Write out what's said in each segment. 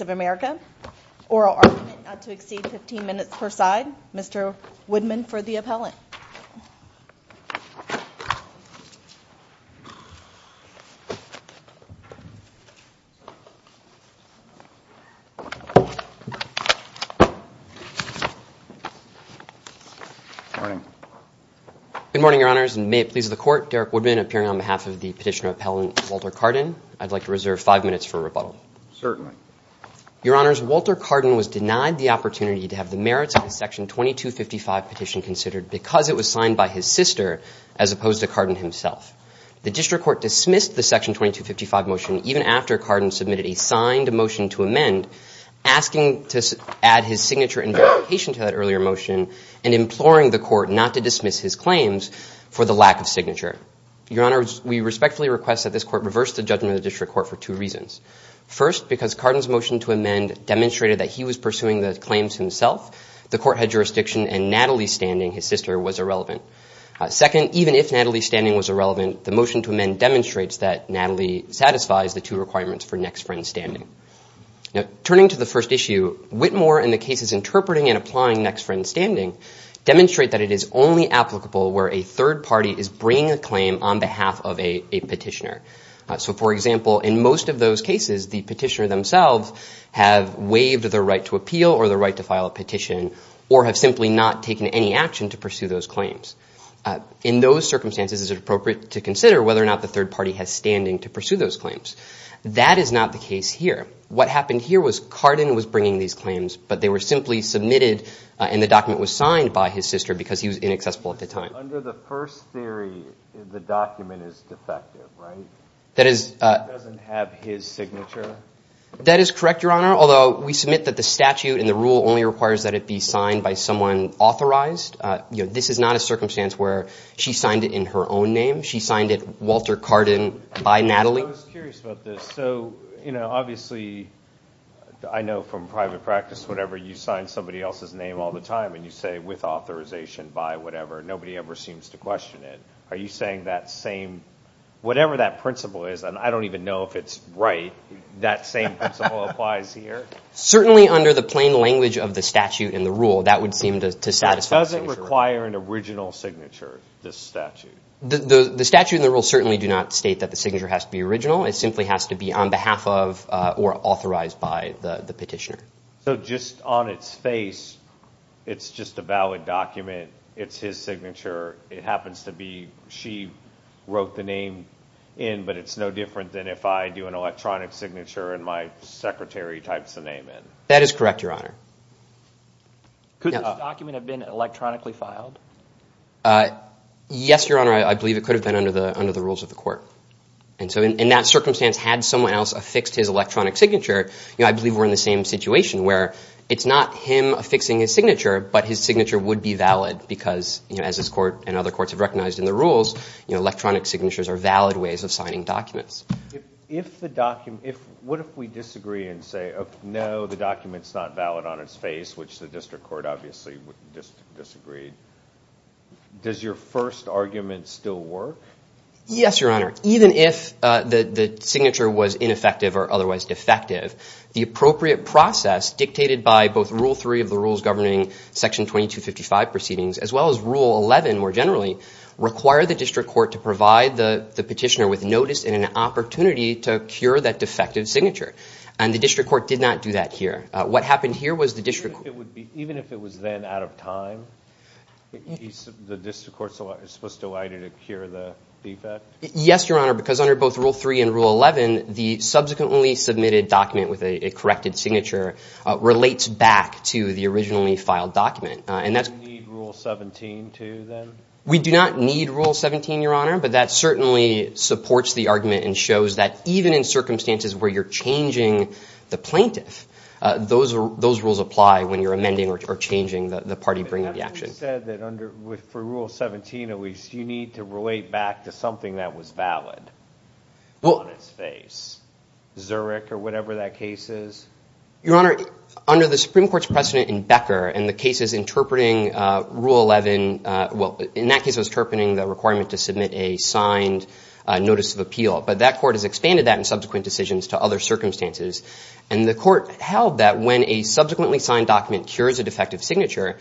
of America. Oral argument not to exceed 15 minutes per side. Mr. Woodman for the appellant. Good morning, your honors, and may it please the court, Derek Woodman appearing on behalf of the petitioner appellant Walter Cardin. I'd like to reserve five minutes for rebuttal. Certainly. Your honors, Walter Cardin was denied the opportunity to have the merits of the section 2255 petition considered because it was signed by his sister as opposed to the 2255 motion even after Cardin submitted a signed motion to amend asking to add his signature and verification to that earlier motion and imploring the court not to dismiss his claims for the lack of signature. Your honors, we respectfully request that this court reverse the judgment of the district court for two reasons. First, because Cardin's motion to amend demonstrated that he was pursuing the claims himself. The court had jurisdiction and Natalie's standing, his sister, was irrelevant. Second, even if Natalie's standing was irrelevant, the motion to amend demonstrates that Natalie satisfies the two requirements for next friend standing. Now, turning to the first issue, Whitmore and the cases interpreting and applying next friend standing demonstrate that it is only applicable where a third party is bringing a claim on behalf of a petitioner. So, for example, in most of those cases, the petitioner themselves have waived the right to appeal or the right to file a petition or have simply not taken any action to pursue those claims. In those circumstances, is it appropriate to consider whether or not the third party has standing to pursue those claims? That is not the case here. What happened here was Cardin was bringing these claims, but they were simply submitted and the document was signed by his sister because he was inaccessible at the time. Under the first theory, the document is defective, right? That is... It doesn't have his signature? That is correct, your honor, although we submit that the statute and the rule only requires that it be signed by someone authorized. This is not a circumstance where she signed it in her own name. She signed it Walter Cardin by Natalie. I was curious about this. So, you know, obviously, I know from private practice, whatever, you sign somebody else's name all the time and you say, with authorization, by whatever. Nobody ever seems to question it. Are you saying that same... Whatever that principle is, and I don't even know if it's right, that same principle applies here? Certainly under the plain language of the statute and the rule, that would seem to satisfy... It doesn't require an original signature, this statute. The statute and the rule certainly do not state that the signature has to be original. It simply has to be on behalf of or authorized by the petitioner. So just on its face, it's just a valid document. It's his signature. It happens to be she wrote the name in, but it's no different than if I do an electronic signature and my secretary types the name in. That is correct, your honor. Could this document have been electronically filed? Yes, your honor. I believe it could have been under the rules of the court. And so in that circumstance, had someone else affixed his electronic signature, I believe we're in the same situation where it's not him affixing his signature, but his signature would be valid because, as this court and other courts have recognized in the rules, electronic signatures are valid ways of signing documents. If the document... What if we disagree and say, no, the document's not valid on its face, which the district court obviously disagreed, does your first argument still work? Yes, your honor. Even if the signature was ineffective or otherwise defective, the appropriate process dictated by both Rule 3 of the rules governing Section 2255 proceedings, as well as Rule 11 more generally, require the district court to provide the petitioner with notice and an opportunity to cure that defective signature. And the district court did not do that here. What happened here was the district court... Even if it was then out of time, the district court is supposed to allow you to cure the defect? Yes, your honor, because under both Rule 3 and Rule 11, the subsequently submitted document with a corrected signature relates back to the originally filed document. And that's... Do we need Rule 17, too, then? We do not need Rule 17, your honor, but that certainly supports the argument and shows that even in circumstances where you're changing the plaintiff, those rules apply when you're amending or changing the party bringing the action. But that's what you said, that for Rule 17, at least, you need to relate back to something that was valid on its face, Zurich or whatever that case is. Your honor, under the Supreme Court's precedent in Becker, in the cases interpreting Rule 11... Well, in that case, I was interpreting the requirement to submit a signed notice of appeal, but that court has expanded that in subsequent decisions to other circumstances. And the court held that when a subsequently signed document cures a defective signature,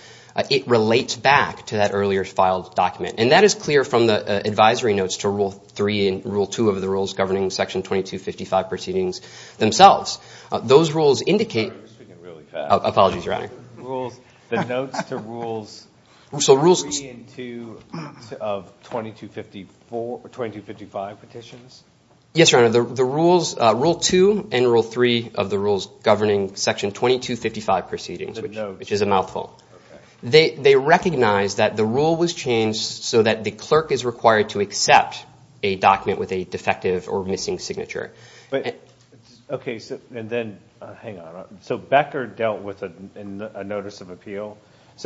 it relates back to that earlier filed document. And that is clear from the advisory notes to Rule 3 and Rule 2 of the rules governing Section 2255 proceedings themselves. Those rules indicate... I'm speaking really fast. Apologies, your honor. The notes to Rules 3 and 2 of 2255 petitions? Yes, your honor. The rules, Rule 2 and Rule 3 of the rules governing Section 2255 proceedings, which is a mouthful. They recognize that the rule was changed so that the clerk is required to accept a document with a defective or missing So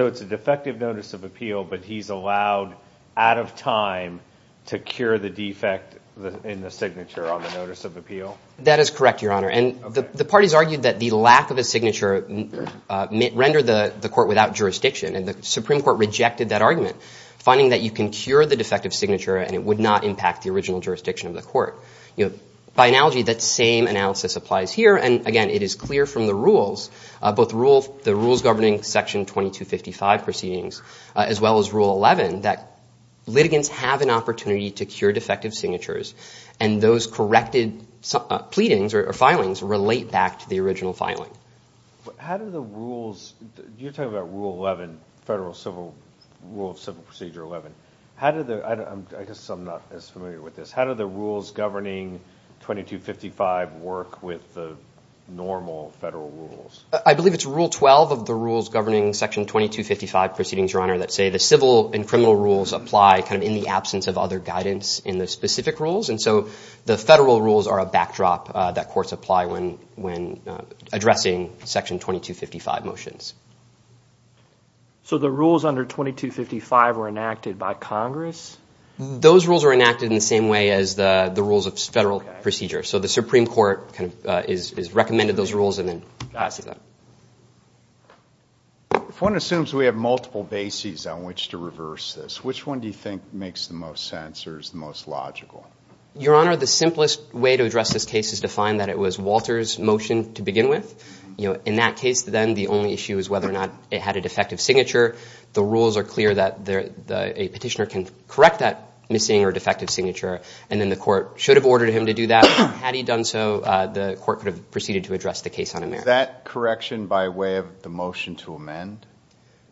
it's a defective notice of appeal, but he's allowed, out of time, to cure the defect in the signature on the notice of appeal? That is correct, your honor. And the parties argued that the lack of a signature rendered the court without jurisdiction. And the Supreme Court rejected that argument, finding that you can cure the defective signature and it would not impact the original jurisdiction of the court. By analogy, that same analysis applies here. And again, it is clear from the rules, both the rules governing Section 2255 proceedings as well as Rule 11, that litigants have an opportunity to cure defective signatures and those corrected pleadings or filings relate back to the original filing. How do the rules... You're talking about Rule 11, Federal Civil... Rule of Civil Procedure 11. How do the... I guess I'm not as familiar with this. How do the rules governing 2255 work with the normal federal rules? I believe it's Rule 12 of the rules governing Section 2255 proceedings, your honor, that say the civil and criminal rules apply kind of in the absence of other guidance in the specific rules. And so the federal rules are a backdrop that courts apply when addressing Section 2255 motions. So the rules under 2255 were enacted by Congress? Those rules were enacted in the same way as the rules of federal procedures. So the Supreme Court is recommended those rules and then passes them. If one assumes we have multiple bases on which to reverse this, which one do you think makes the most sense or is the most logical? Your honor, the simplest way to address this case is to find that it was Walter's motion to begin with. In that case, then the only issue is whether or not it had a defective signature. The rules are clear that a petitioner can correct that missing or defective signature. And then the court should have ordered him to do that. Had he done so, the court could have proceeded to address the case on him there. Is that correction by way of the motion to amend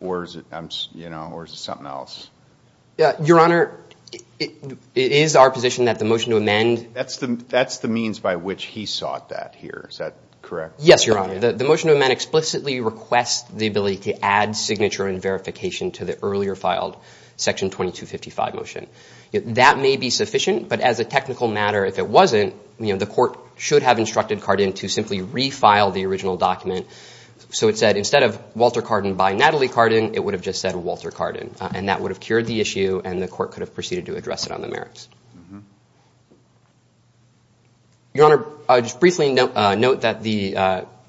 or is it something else? Your honor, it is our position that the motion to amend... That's the means by which he sought that here. Is that correct? Yes, your honor. The motion to amend explicitly requests the ability to add signature and verification to the earlier filed Section 2255 motion. That may be sufficient, but as a technical matter, if it wasn't, the court should have instructed Carden to simply refile the original document. So it said, instead of Walter Carden by Natalie Carden, it would have just said Walter Carden. And that would have cured the issue and the court could have proceeded to address it on the merits. Your honor, I'll just briefly note that the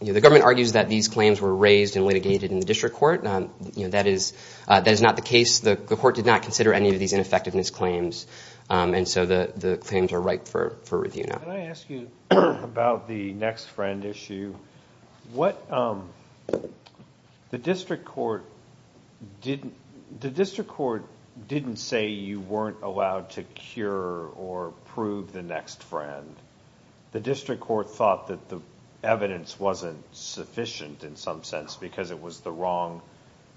government argues that these claims were raised and litigated in the district court. That is not the case. The court did not consider any of these ineffectiveness claims. And so the claims are ripe for review now. Can I ask you about the next friend issue? The district court didn't say you weren't allowed to cure or prove the next friend. The district court thought that the evidence wasn't sufficient in some sense because it was wrong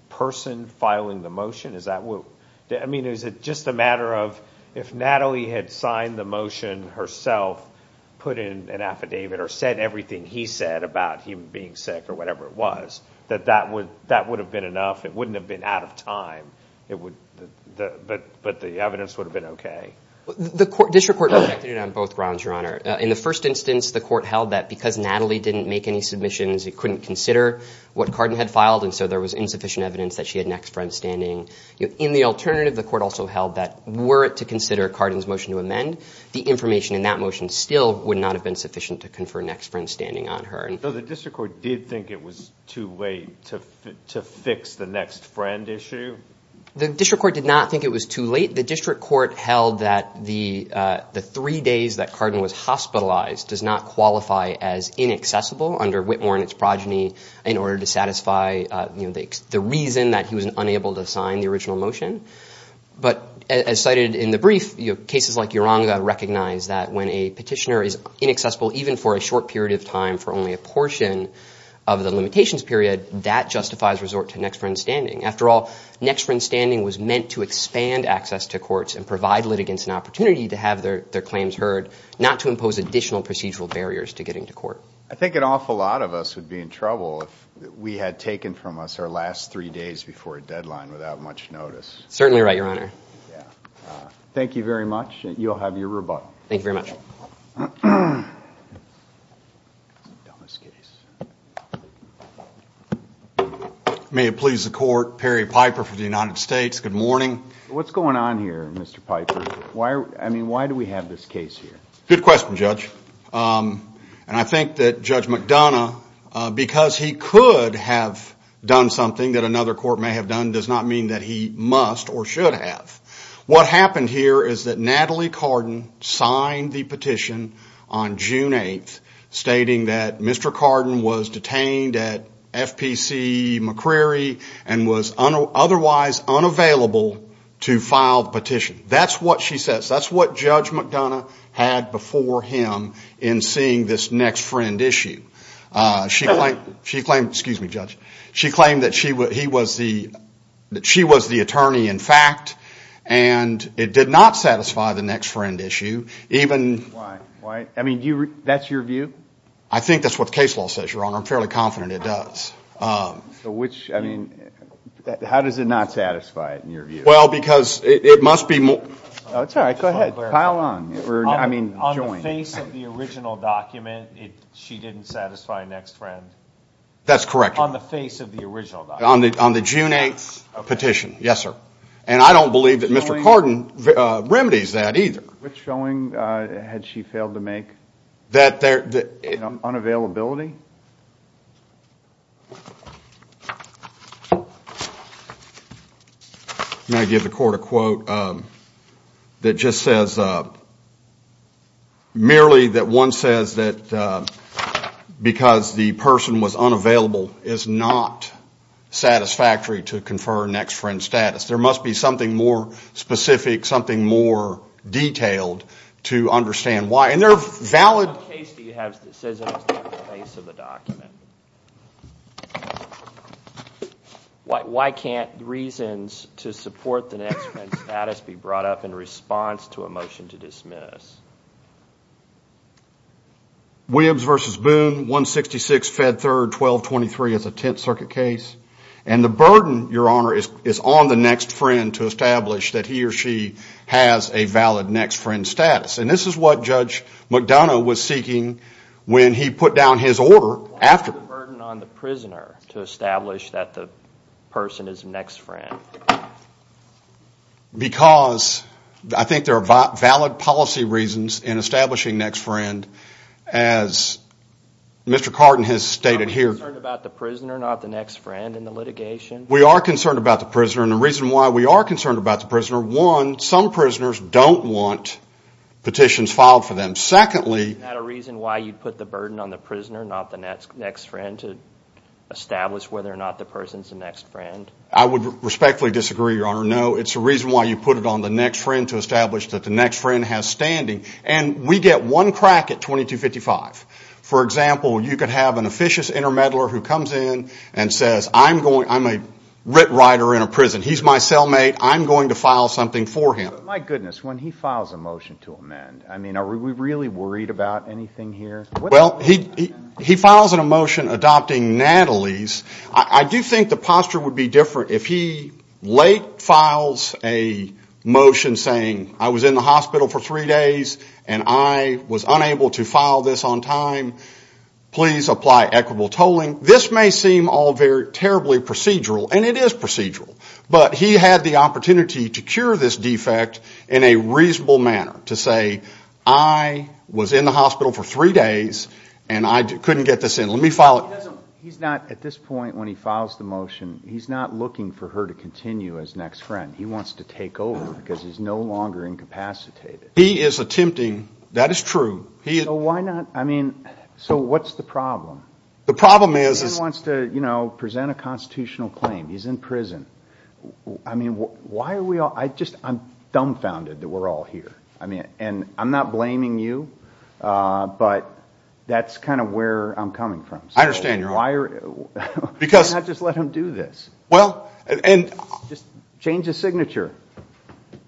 person filing the motion. I mean, is it just a matter of if Natalie had signed the motion herself, put in an affidavit, or said everything he said about him being sick or whatever it was, that that would have been enough? It wouldn't have been out of time, but the evidence would have been okay. The district court rejected it on both grounds, your honor. In the first instance, the court held that because Natalie didn't make any submissions, it couldn't consider what Carden had filed, and so there was insufficient evidence that she had next friend standing. In the alternative, the court also held that were it to consider Carden's motion to amend, the information in that motion still would not have been sufficient to confer next friend standing on her. So the district court did think it was too late to fix the next friend issue? The district court did not think it was too late. The district court held that the three days that Whitmore and its progeny in order to satisfy the reason that he was unable to sign the original motion. But as cited in the brief, cases like Yeronga recognize that when a petitioner is inaccessible, even for a short period of time, for only a portion of the limitations period, that justifies resort to next friend standing. After all, next friend standing was meant to expand access to courts and provide litigants an opportunity to have their claims heard, not to impose additional procedural barriers to getting to court. I think an awful lot of us would be in trouble if we had taken from us our last three days before a deadline without much notice. Certainly right, your honor. Thank you very much. You'll have your rebuttal. Thank you very much. May it please the court, Perry Piper for the United States. Good morning. What's going on here, Mr. Piper? Why do we have this case here? Good question, Judge. And I think that Judge McDonough, because he could have done something that another court may have done, does not mean that he must or should have. What happened here is that Natalie Carden signed the petition on June 8th stating that Mr. Carden was detained at FPC McCreary and was otherwise unavailable to file the petition. That's what she says. That's what Judge McDonough had before him in seeing this next friend issue. She claimed, excuse me, Judge, she claimed that she was the attorney in fact and it did not satisfy the next friend issue. I mean, that's your view? I think that's what the case law says, your honor. I'm fairly confident it does. How does it not satisfy it in your view? Well, because it must be... That's all right. Go ahead. Pile on. I mean, join. On the face of the original document, she didn't satisfy next friend? That's correct. On the face of the original document? On the June 8th petition. Yes, sir. And I don't believe that Mr. Carden remedies that either. Which showing had she failed to make? Unavailability? I'm going to give the court a quote that just says, merely that one says that because the person was unavailable is not satisfactory to confer next friend status. There must be something more specific, something more detailed to understand why. And there are valid... What case do you have that says on the face of the document? Why can't reasons to support the next friend status be brought up in response to a motion to dismiss? Wibbs v. Boone, 166 Fed 3rd, 1223 as a Tenth Circuit case. And the burden, your honor, is on the next friend to establish that he or she has a valid next friend status. And this is what McDonough was seeking when he put down his order after. Why is there a burden on the prisoner to establish that the person is a next friend? Because I think there are valid policy reasons in establishing next friend as Mr. Carden has stated here. Are we concerned about the prisoner, not the next friend in the litigation? We are concerned about the prisoner and the reason why we are concerned about the prisoner, one, some prisoners don't want petitions filed for them. Secondly... Is that a reason why you put the burden on the prisoner, not the next friend, to establish whether or not the person's a next friend? I would respectfully disagree, your honor. No, it's a reason why you put it on the next friend to establish that the next friend has standing. And we get one crack at 2255. For example, you could have an officious intermeddler who comes in and says, I'm a writ writer in a prison. He's my cellmate. I'm going to file something for him. My goodness, when he files a motion to amend, I mean, are we really worried about anything here? Well, he files a motion adopting Natalie's. I do think the posture would be different if he late files a motion saying, I was in the hospital for three days and I was unable to file this on time. Please apply equitable tolling. This may seem all very procedural, and it is procedural, but he had the opportunity to cure this defect in a reasonable manner to say, I was in the hospital for three days and I couldn't get this in. Let me file it. He's not, at this point when he files the motion, he's not looking for her to continue as next friend. He wants to take over because he's no longer incapacitated. He is attempting, that is true. So what's the problem? He wants to present a constitutional claim. He's in prison. I mean, why are we all, I'm dumbfounded that we're all here. I mean, and I'm not blaming you, but that's kind of where I'm coming from. I understand your heart. Why not just let him do this? Just change his signature.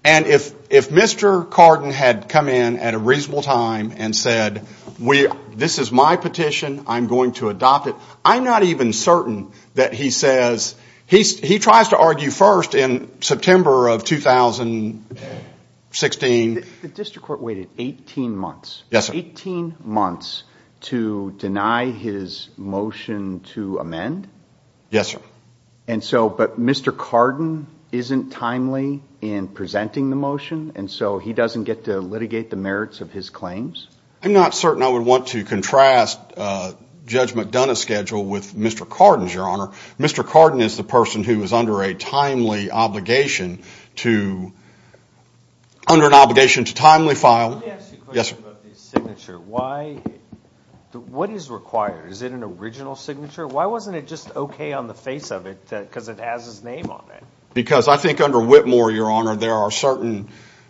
And if Mr. Cardin had come in at a reasonable time and said, this is my petition, I'm going to adopt it, I'm not even certain that he says, he tries to argue first in September of 2016. The district court waited 18 months, 18 months to deny his motion to amend? Yes, sir. And so, but Mr. Cardin isn't timely in presenting the motion and so he doesn't get to litigate the merits of his claims? I'm not certain I would want to contrast Judge McDonough's schedule with Mr. Cardin's, your honor. Mr. Cardin is the person who is under a timely obligation to, under an obligation to timely file. Let me ask you a question about the signature. Why, what is required? Is it an original signature? Why wasn't it just okay on the face of it because it has his name on it? Because I think under Whitmore, your honor, there are certain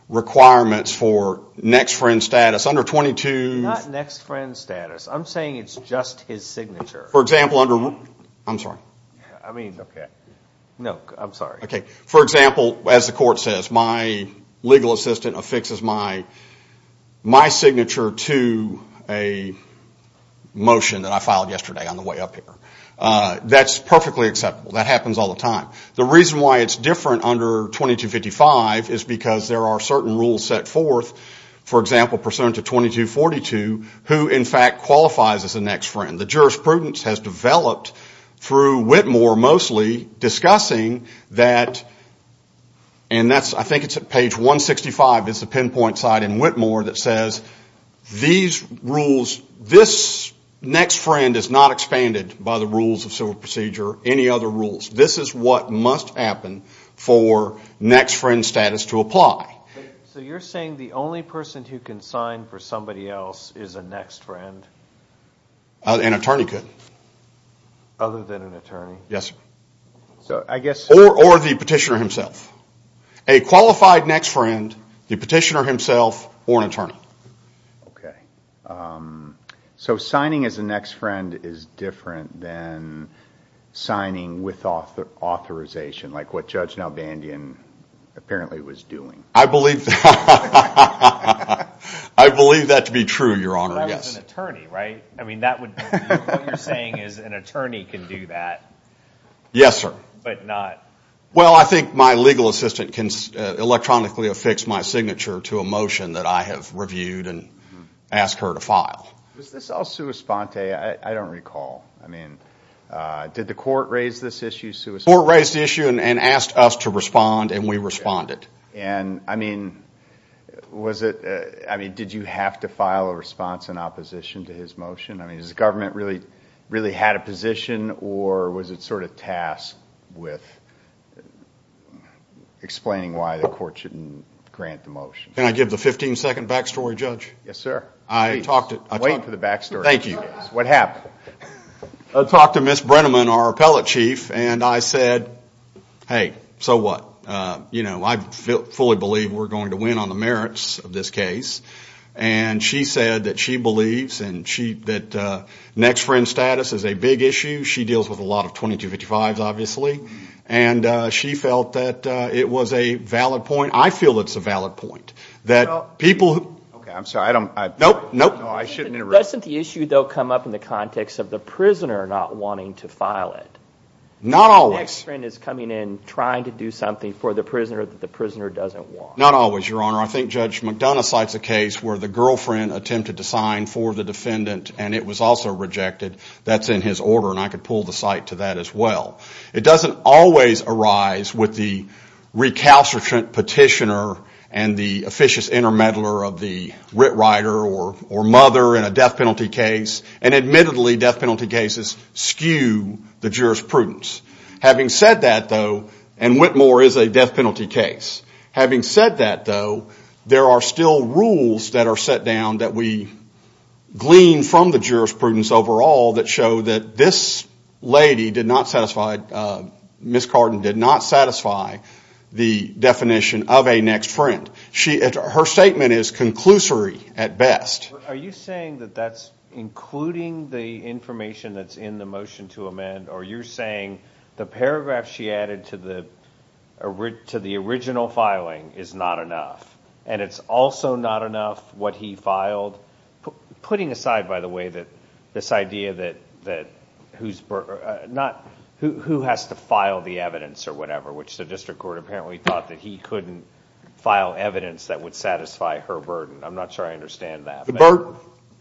requirements for next friend status under 22. Not next friend status. I'm saying it's just his signature. For example, under, I'm sorry. I mean, okay. No, I'm sorry. Okay. For example, as the court says, my legal assistant affixes my signature to a motion that I filed yesterday on the way up here. That's perfectly acceptable. That happens all the time. The reason why it's different under 2255 is because there are certain rules set forth, for example, pursuant to 2242, who in fact qualifies as a next friend. The jurisprudence has developed through Whitmore mostly discussing that, and that's, I think it's at page 165 is the pinpoint site in Whitmore that says these rules, this next friend is not expanded by the rules of civil procedure, any other rules. This is what must happen for next friend status to apply. So you're saying the only person who can sign for somebody else is a next friend? An attorney could. Other than an attorney? Yes. Or the petitioner himself. A qualified next friend, the petitioner himself, or an attorney. Okay. So signing as a next friend is different than signing with authorization, like what Judge Nalbandian apparently was doing. I believe that to be true, Your Honor. An attorney, right? I mean, what you're saying is an attorney can do that. Yes, sir. But not... Well, I think my legal assistant can electronically affix my signature to a motion that I have reviewed and asked her to file. Was this all sua sponte? I don't recall. I mean, did the court raise this issue? The court raised the issue and asked us to respond, and we responded. And, I mean, was it... I mean, did you have to file a response in opposition to his motion? I mean, has the government really had a position, or was it sort of tasked with explaining why the court shouldn't grant the motion? Can I give the 15-second backstory, Judge? Yes, sir. Wait for the backstory. Thank you. What happened? I talked to Ms. Brenneman, our appellate chief, and I said, hey, so what? You know, I fully believe we're going to win on the merits of this case. And she said that she believes that next friend status is a big issue. She deals with a lot of 2255s, obviously, and she felt that it was a valid point. I feel it's a valid point that people... Okay, I'm sorry. I don't... Nope, nope. No, I shouldn't interrupt. Doesn't the issue, though, come up in the context of the prisoner not wanting to file it? Not always. The girlfriend is coming in, trying to do something for the prisoner that the prisoner doesn't want. Not always, Your Honor. I think Judge McDonough cites a case where the girlfriend attempted to sign for the defendant and it was also rejected. That's in his order, and I could pull the site to that as well. It doesn't always arise with the recalcitrant petitioner and the officious intermeddler of the writ writer or mother in a death penalty case. And admittedly, death penalty cases skew the juror's prudence. Having said that, though... And Whitmore is a death penalty case. Having said that, though, there are still rules that are set down that we glean from the jurisprudence overall that show that this lady did not satisfy... Ms. Carden did not satisfy the definition of a next friend. Her statement is conclusory at best. Are you saying that that's including the information that's in the motion to amend? Or you're saying the paragraph she added to the original filing is not enough, and it's also not enough what he filed? Putting aside, by the way, this idea that who has to file the evidence or whatever, which the district court apparently thought that he couldn't file evidence that would satisfy her burden. I'm not sure I understand that. The burden.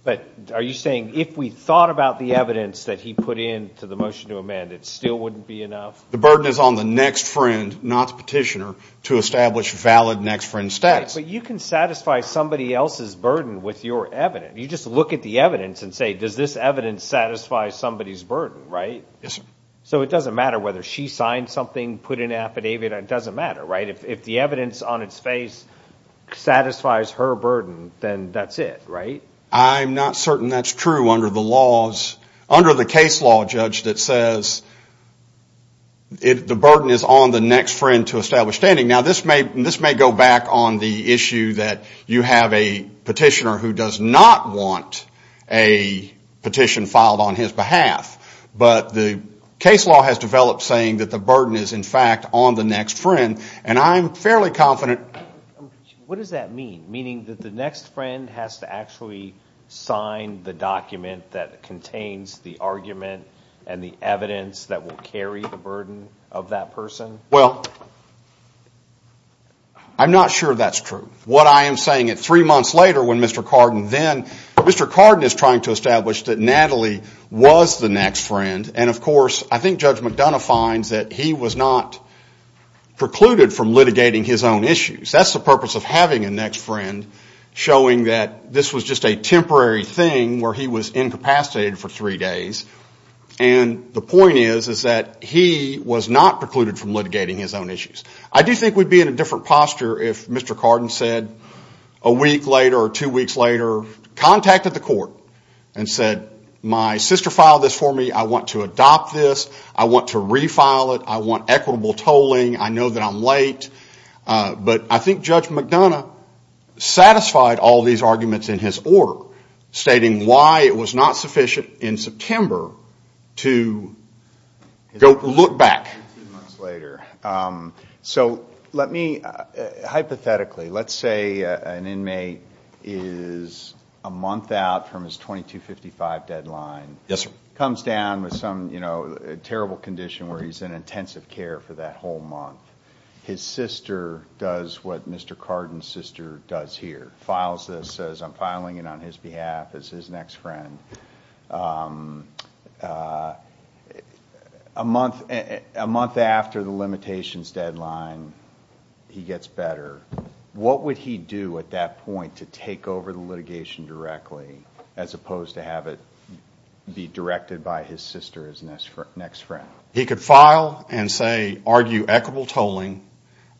But are you saying if we thought about the evidence that he put in to the motion to amend, it still wouldn't be enough? The burden is on the next friend, not the petitioner, to establish valid next friend stats. But you can satisfy somebody else's burden with your evidence. You just look at the evidence and say, does this evidence satisfy somebody's burden, right? Yes, sir. So it doesn't matter whether she signed something, put in an affidavit. It doesn't matter, right? If the evidence on its face satisfies her burden, then that's it, right? I'm not certain that's true under the laws... ...that says the burden is on the next friend to establish standing. Now, this may go back on the issue that you have a petitioner who does not want a petition filed on his behalf. But the case law has developed saying that the burden is, in fact, on the next friend. And I'm fairly confident... What does that mean? Meaning that the next friend has to actually sign the document that contains the argument and the evidence that will carry the burden of that person? Well, I'm not sure that's true. What I am saying is three months later when Mr. Cardin then... Mr. Cardin is trying to establish that Natalie was the next friend. And of course, I think Judge McDonough finds that he was not precluded from litigating his own issues. That's the purpose of having a next friend, showing that this was just a temporary thing where he was incapacitated for three days. And the point is, is that he was not precluded from litigating his own issues. I do think we'd be in a different posture if Mr. Cardin said a week later or two weeks later, contacted the court and said, my sister filed this for me. I want to adopt this. I want to refile it. I want equitable tolling. I know that I'm late. But I think Judge McDonough satisfied all these arguments in his order, stating why it was not sufficient in September to go look back. So hypothetically, let's say an inmate is a month out from his 2255 deadline, comes down with some terrible condition where he's in intensive care for that whole month. His sister does what Mr. Cardin's sister does here, files this, says I'm filing it on his behalf as his next friend. A month after the limitations deadline, he gets better. What would he do at that point to take over the litigation directly, as opposed to have it be directed by his sister as his next friend? He could file and say, argue equitable tolling.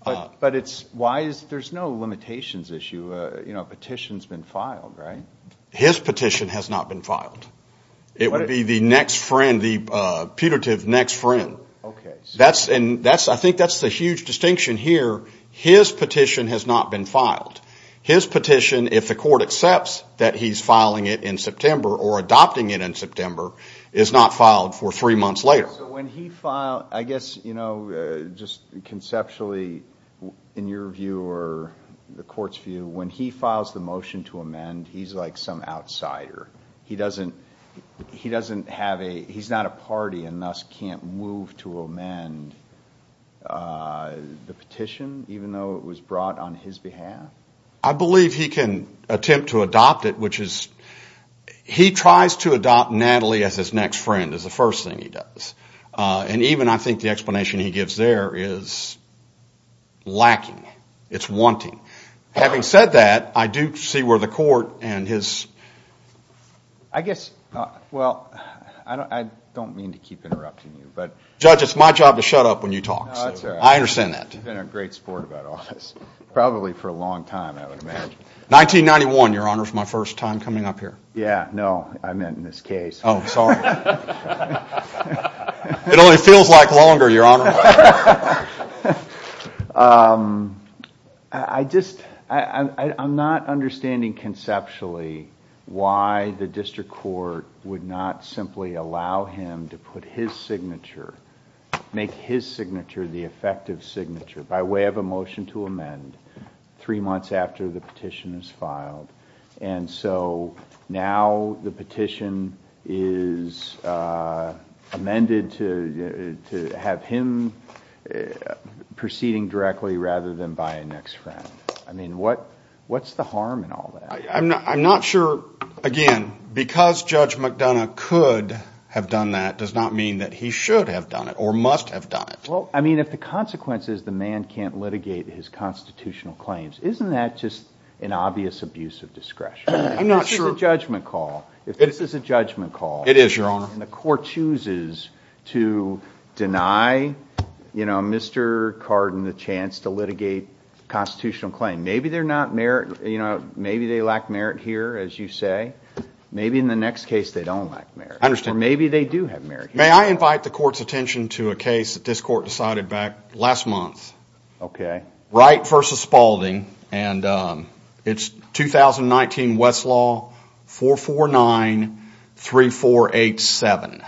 But there's no limitations issue. A petition's been filed, right? His petition has not been filed. It would be the next friend, the putative next friend. I think that's the huge distinction here. His petition has not been filed. His petition, if the court accepts that he's filing it in September or adopting it in September, is not filed for three months later. When he filed, I guess just conceptually, in your view or the court's view, when he files the motion to amend, he's like some outsider. He's not a party and thus can't move to amend the petition, even though it was brought on his behalf? I believe he can attempt to adopt it, which is, he tries to adopt Natalie as his next friend is the first thing he does. And even I think the explanation he gives there is lacking. It's wanting. Having said that, I do see where the court and his... I guess, well, I don't mean to keep interrupting you, but... Judge, it's my job to shut up when you talk. No, that's all right. I understand that. You've been a great sport about all this. Probably for a long time, I would imagine. 1991, Your Honor, is my first time coming up here. Yeah, no, I meant in this case. Oh, sorry. It only feels like longer, Your Honor. I just, I'm not understanding conceptually why the district court would not simply allow him to put his signature, make his signature the effective signature by way of a motion to amend three months after the petition is filed. And so now the petition is amended to have him proceeding directly rather than by a next friend. I mean, what's the harm in all that? I'm not sure, again, because Judge McDonough could have done that, does not mean that he should have done it or must have done it. Well, I mean, if the consequence is the man can't litigate his constitutional claims, isn't that just an obvious abuse of discretion? I'm not sure. This is a judgment call. If this is a judgment call. It is, Your Honor. And the court chooses to deny, you know, Mr. Cardin the chance to litigate constitutional claim, maybe they're not merit, you know, maybe they lack merit here, as you say. Maybe in the next case, they don't lack merit. I understand. Maybe they do have merit. May I invite the court's attention to a case that this court decided back last month? Okay. Wright versus Spaulding. And it's 2019 Westlaw 449-3487.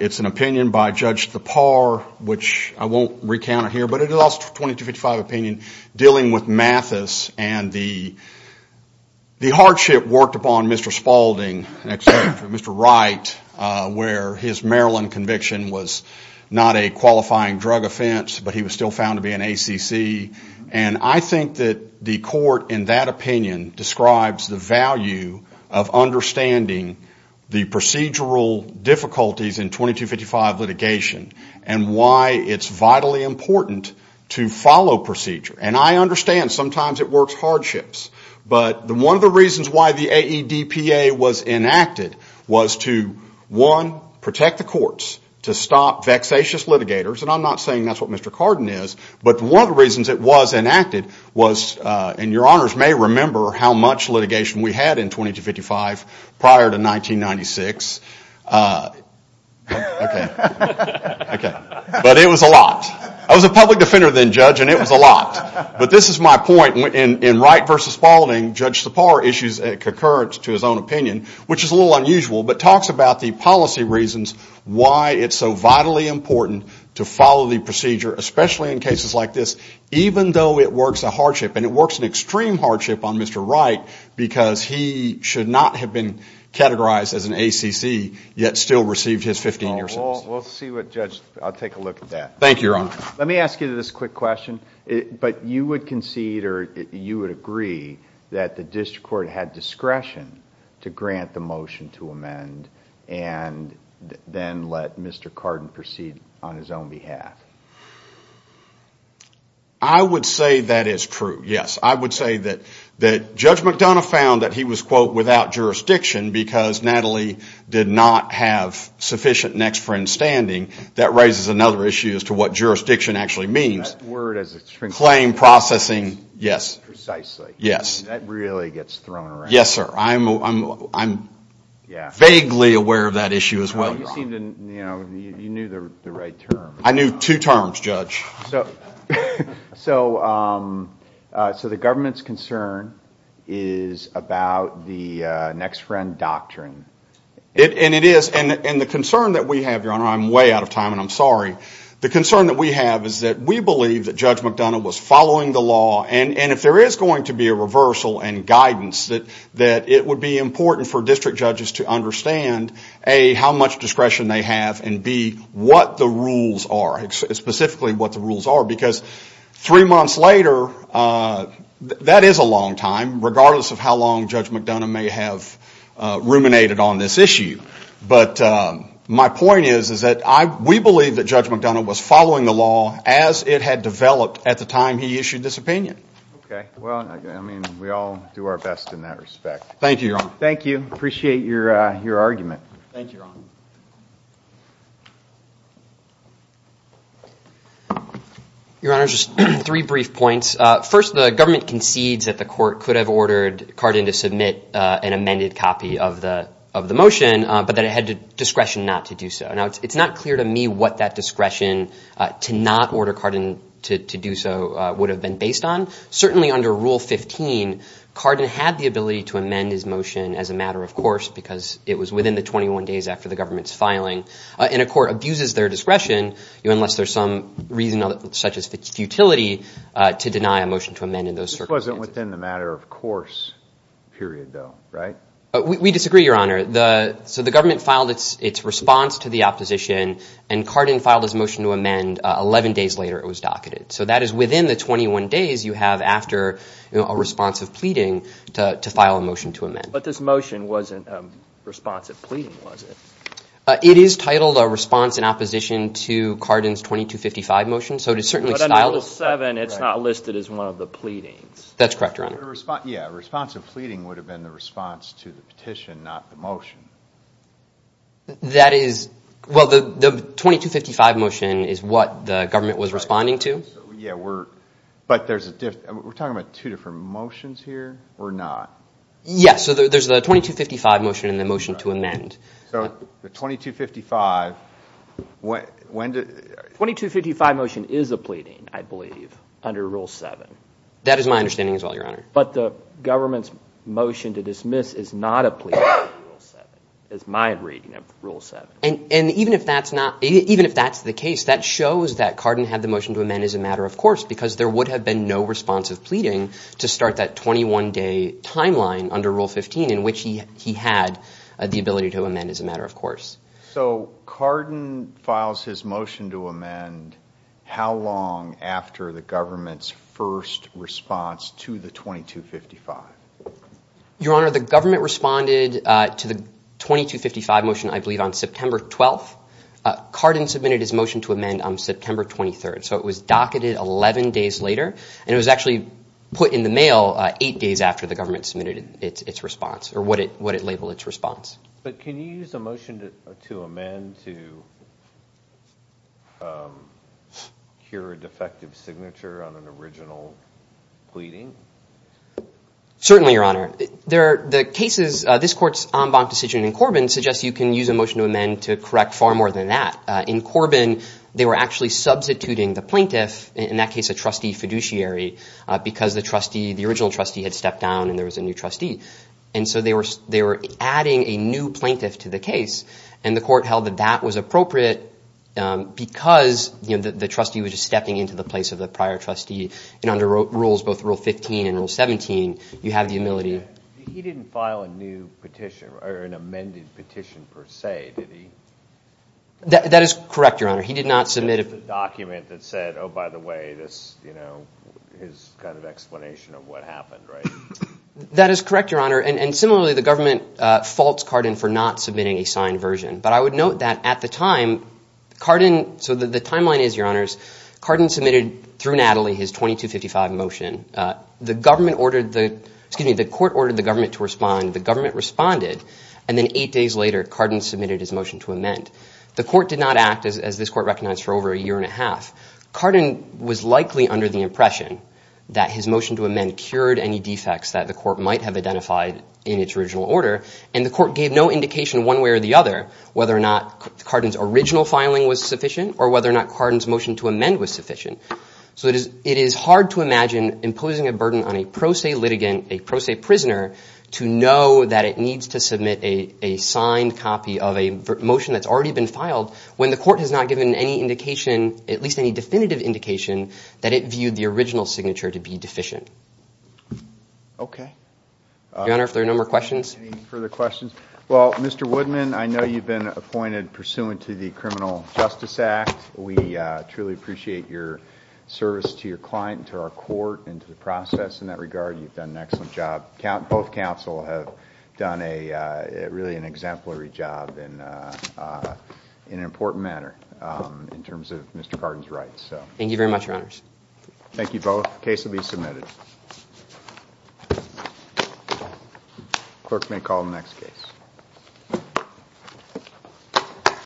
It's an opinion by Judge Thapar, which I won't recount it here, but it is also a 2255 opinion dealing with Mathis. And the hardship worked upon Mr. Spaulding, Mr. Wright, where his Maryland conviction was not a qualifying drug offense, but he was still found to be an ACC. And I think that the court, in that opinion, describes the value of understanding the procedural difficulties in 2255 litigation and why it's vitally important to follow procedure. And I understand sometimes it works hardships, but one of the reasons why the AEDPA was enacted was to, one, protect the courts to stop vexatious litigators. And I'm not saying that's what Mr. Cardin is, but one of the reasons it was enacted was, and your honors may remember how much litigation we had in 2255 prior to 1996. Okay. But it was a lot. I was a public defender then, Judge, and it was a lot. But this is my point. In Wright versus Spaulding, Judge Thapar issues a concurrence to his own opinion, which is a little unusual, but talks about the policy reasons why it's so vitally important to follow the procedure, especially in cases like this, even though it works a hardship. And it works an extreme hardship on Mr. Wright because he should not have been categorized as an ACC, yet still received his 15-year sentence. We'll see what Judge... I'll take a look at that. Thank you, your honor. Let me ask you this quick question. But you would concede or you would agree that the district court had discretion to grant the motion to amend and then let Mr. Cardin proceed on his own behalf? I would say that is true, yes. I would say that Judge McDonough found that he was, quote, without jurisdiction because Natalie did not have sufficient next friend standing. That raises another issue as to what jurisdiction actually means. That word as extreme... Claim processing, yes. Precisely. Yes. That really gets thrown around. Yes, sir. I'm vaguely aware of that issue as well, your honor. You knew the right term. I knew two terms, Judge. So the government's concern is about the next friend doctrine. And it is. And the concern that we have, your honor... I'm way out of time and I'm sorry. The concern that we have is that we believe that Judge McDonough was following the law. And if there is going to be a reversal and guidance, that it would be important for district judges to understand, A, how much discretion they have, and B, what the rules are, specifically what the rules are. Because three months later, that is a long time, regardless of how long Judge McDonough may have ruminated on this issue. But my point is that we believe that Judge McDonough was following the law as it had developed at the time he issued this opinion. OK. Well, I mean, we all do our best in that respect. Thank you, your honor. Thank you. Appreciate your argument. Thank you, your honor. Your honor, just three brief points. First, the government concedes that the court could have ordered Cardin to submit an amended copy of the motion, but that it had discretion not to do so. It's not clear to me what that discretion to not order Cardin to do so would have been based on. Certainly, under Rule 15, Cardin had the ability to amend his motion as a matter of course, because it was within the 21 days after the government's filing. And a court abuses their discretion, unless there's some reason, such as futility, to deny a motion to amend in those circumstances. This wasn't within the matter of course period, though, right? We disagree, your honor. So the government filed its response to the opposition, and Cardin filed his motion to amend 11 days later it was docketed. So that is within the 21 days you have after a response of pleading to file a motion to amend. But this motion wasn't a response of pleading, was it? It is titled a response in opposition to Cardin's 2255 motion. So it is certainly styled as a response. It's not listed as one of the pleadings. That's correct, your honor. Yeah, a response of pleading would have been the response to the petition, not the motion. That is, well, the 2255 motion is what the government was responding to. Yeah, but we're talking about two different motions here, or not? Yes, so there's the 2255 motion and the motion to amend. So the 2255, when did? 2255 motion is a pleading, I believe, under Rule 7. That is my understanding as well, your honor. But the government's motion to dismiss is not a pleading under Rule 7. It's my reading of Rule 7. And even if that's not, even if that's the case, that shows that Cardin had the motion to amend as a matter of course because there would have been no response of pleading to start that 21-day timeline under Rule 15 in which he had the ability to amend as a matter of course. So Cardin files his motion to amend how long after the government's first response to the 2255? Your honor, the government responded to the 2255 motion, I believe, on September 12th. Cardin submitted his motion to amend on September 23rd. So it was docketed 11 days later. And it was actually put in the mail eight days after the government submitted its response, or what it labeled its response. But can you use a motion to amend to cure a defective signature on an original pleading? Certainly, your honor. There are the cases, this court's en banc decision in Corbin suggests you can use a motion to amend to correct far more than that. In Corbin, they were actually substituting the plaintiff, in that case a trustee fiduciary, because the trustee, the original trustee had stepped down and there was a new trustee. And so they were adding a new plaintiff to the case. And the court held that that was appropriate because the trustee was just stepping into the place of the prior trustee. And under rules, both Rule 15 and Rule 17, you have the ability. He didn't file a new petition or an amended petition per se, did he? That is correct, your honor. He did not submit a document that said, oh, by the way, this, you know, his kind of explanation of what happened, right? That is correct, your honor. And similarly, the government faults Cardin for not submitting a signed version. But I would note that at the time, Cardin, so the timeline is, your honors, Cardin submitted through Natalie his 2255 motion. The government ordered the, excuse me, the court ordered the government to respond. The government responded. And then eight days later, Cardin submitted his motion to amend. The court did not act, as this court recognized, for over a year and a half. Cardin was likely under the impression that his motion to amend cured any defects that the court might have identified in its original order. And the court gave no indication, one way or the other, whether or not Cardin's original filing was sufficient or whether or not Cardin's motion to amend was sufficient. So it is hard to imagine imposing a burden on a pro se litigant, a pro se prisoner, to know that it needs to submit a signed copy of a motion that's already been filed when the court has not given any indication, at least any definitive indication, that it viewed the original signature to be deficient. Okay. Your Honor, if there are no more questions. Any further questions? Well, Mr. Woodman, I know you've been appointed pursuant to the Criminal Justice Act. We truly appreciate your service to your client and to our court and to the process in that regard. You've done an excellent job. Both counsel have done really an exemplary job in an important matter in terms of Mr. Cardin's rights. Thank you very much, Your Honors. Thank you both. The case will be submitted. The clerk may call the next case.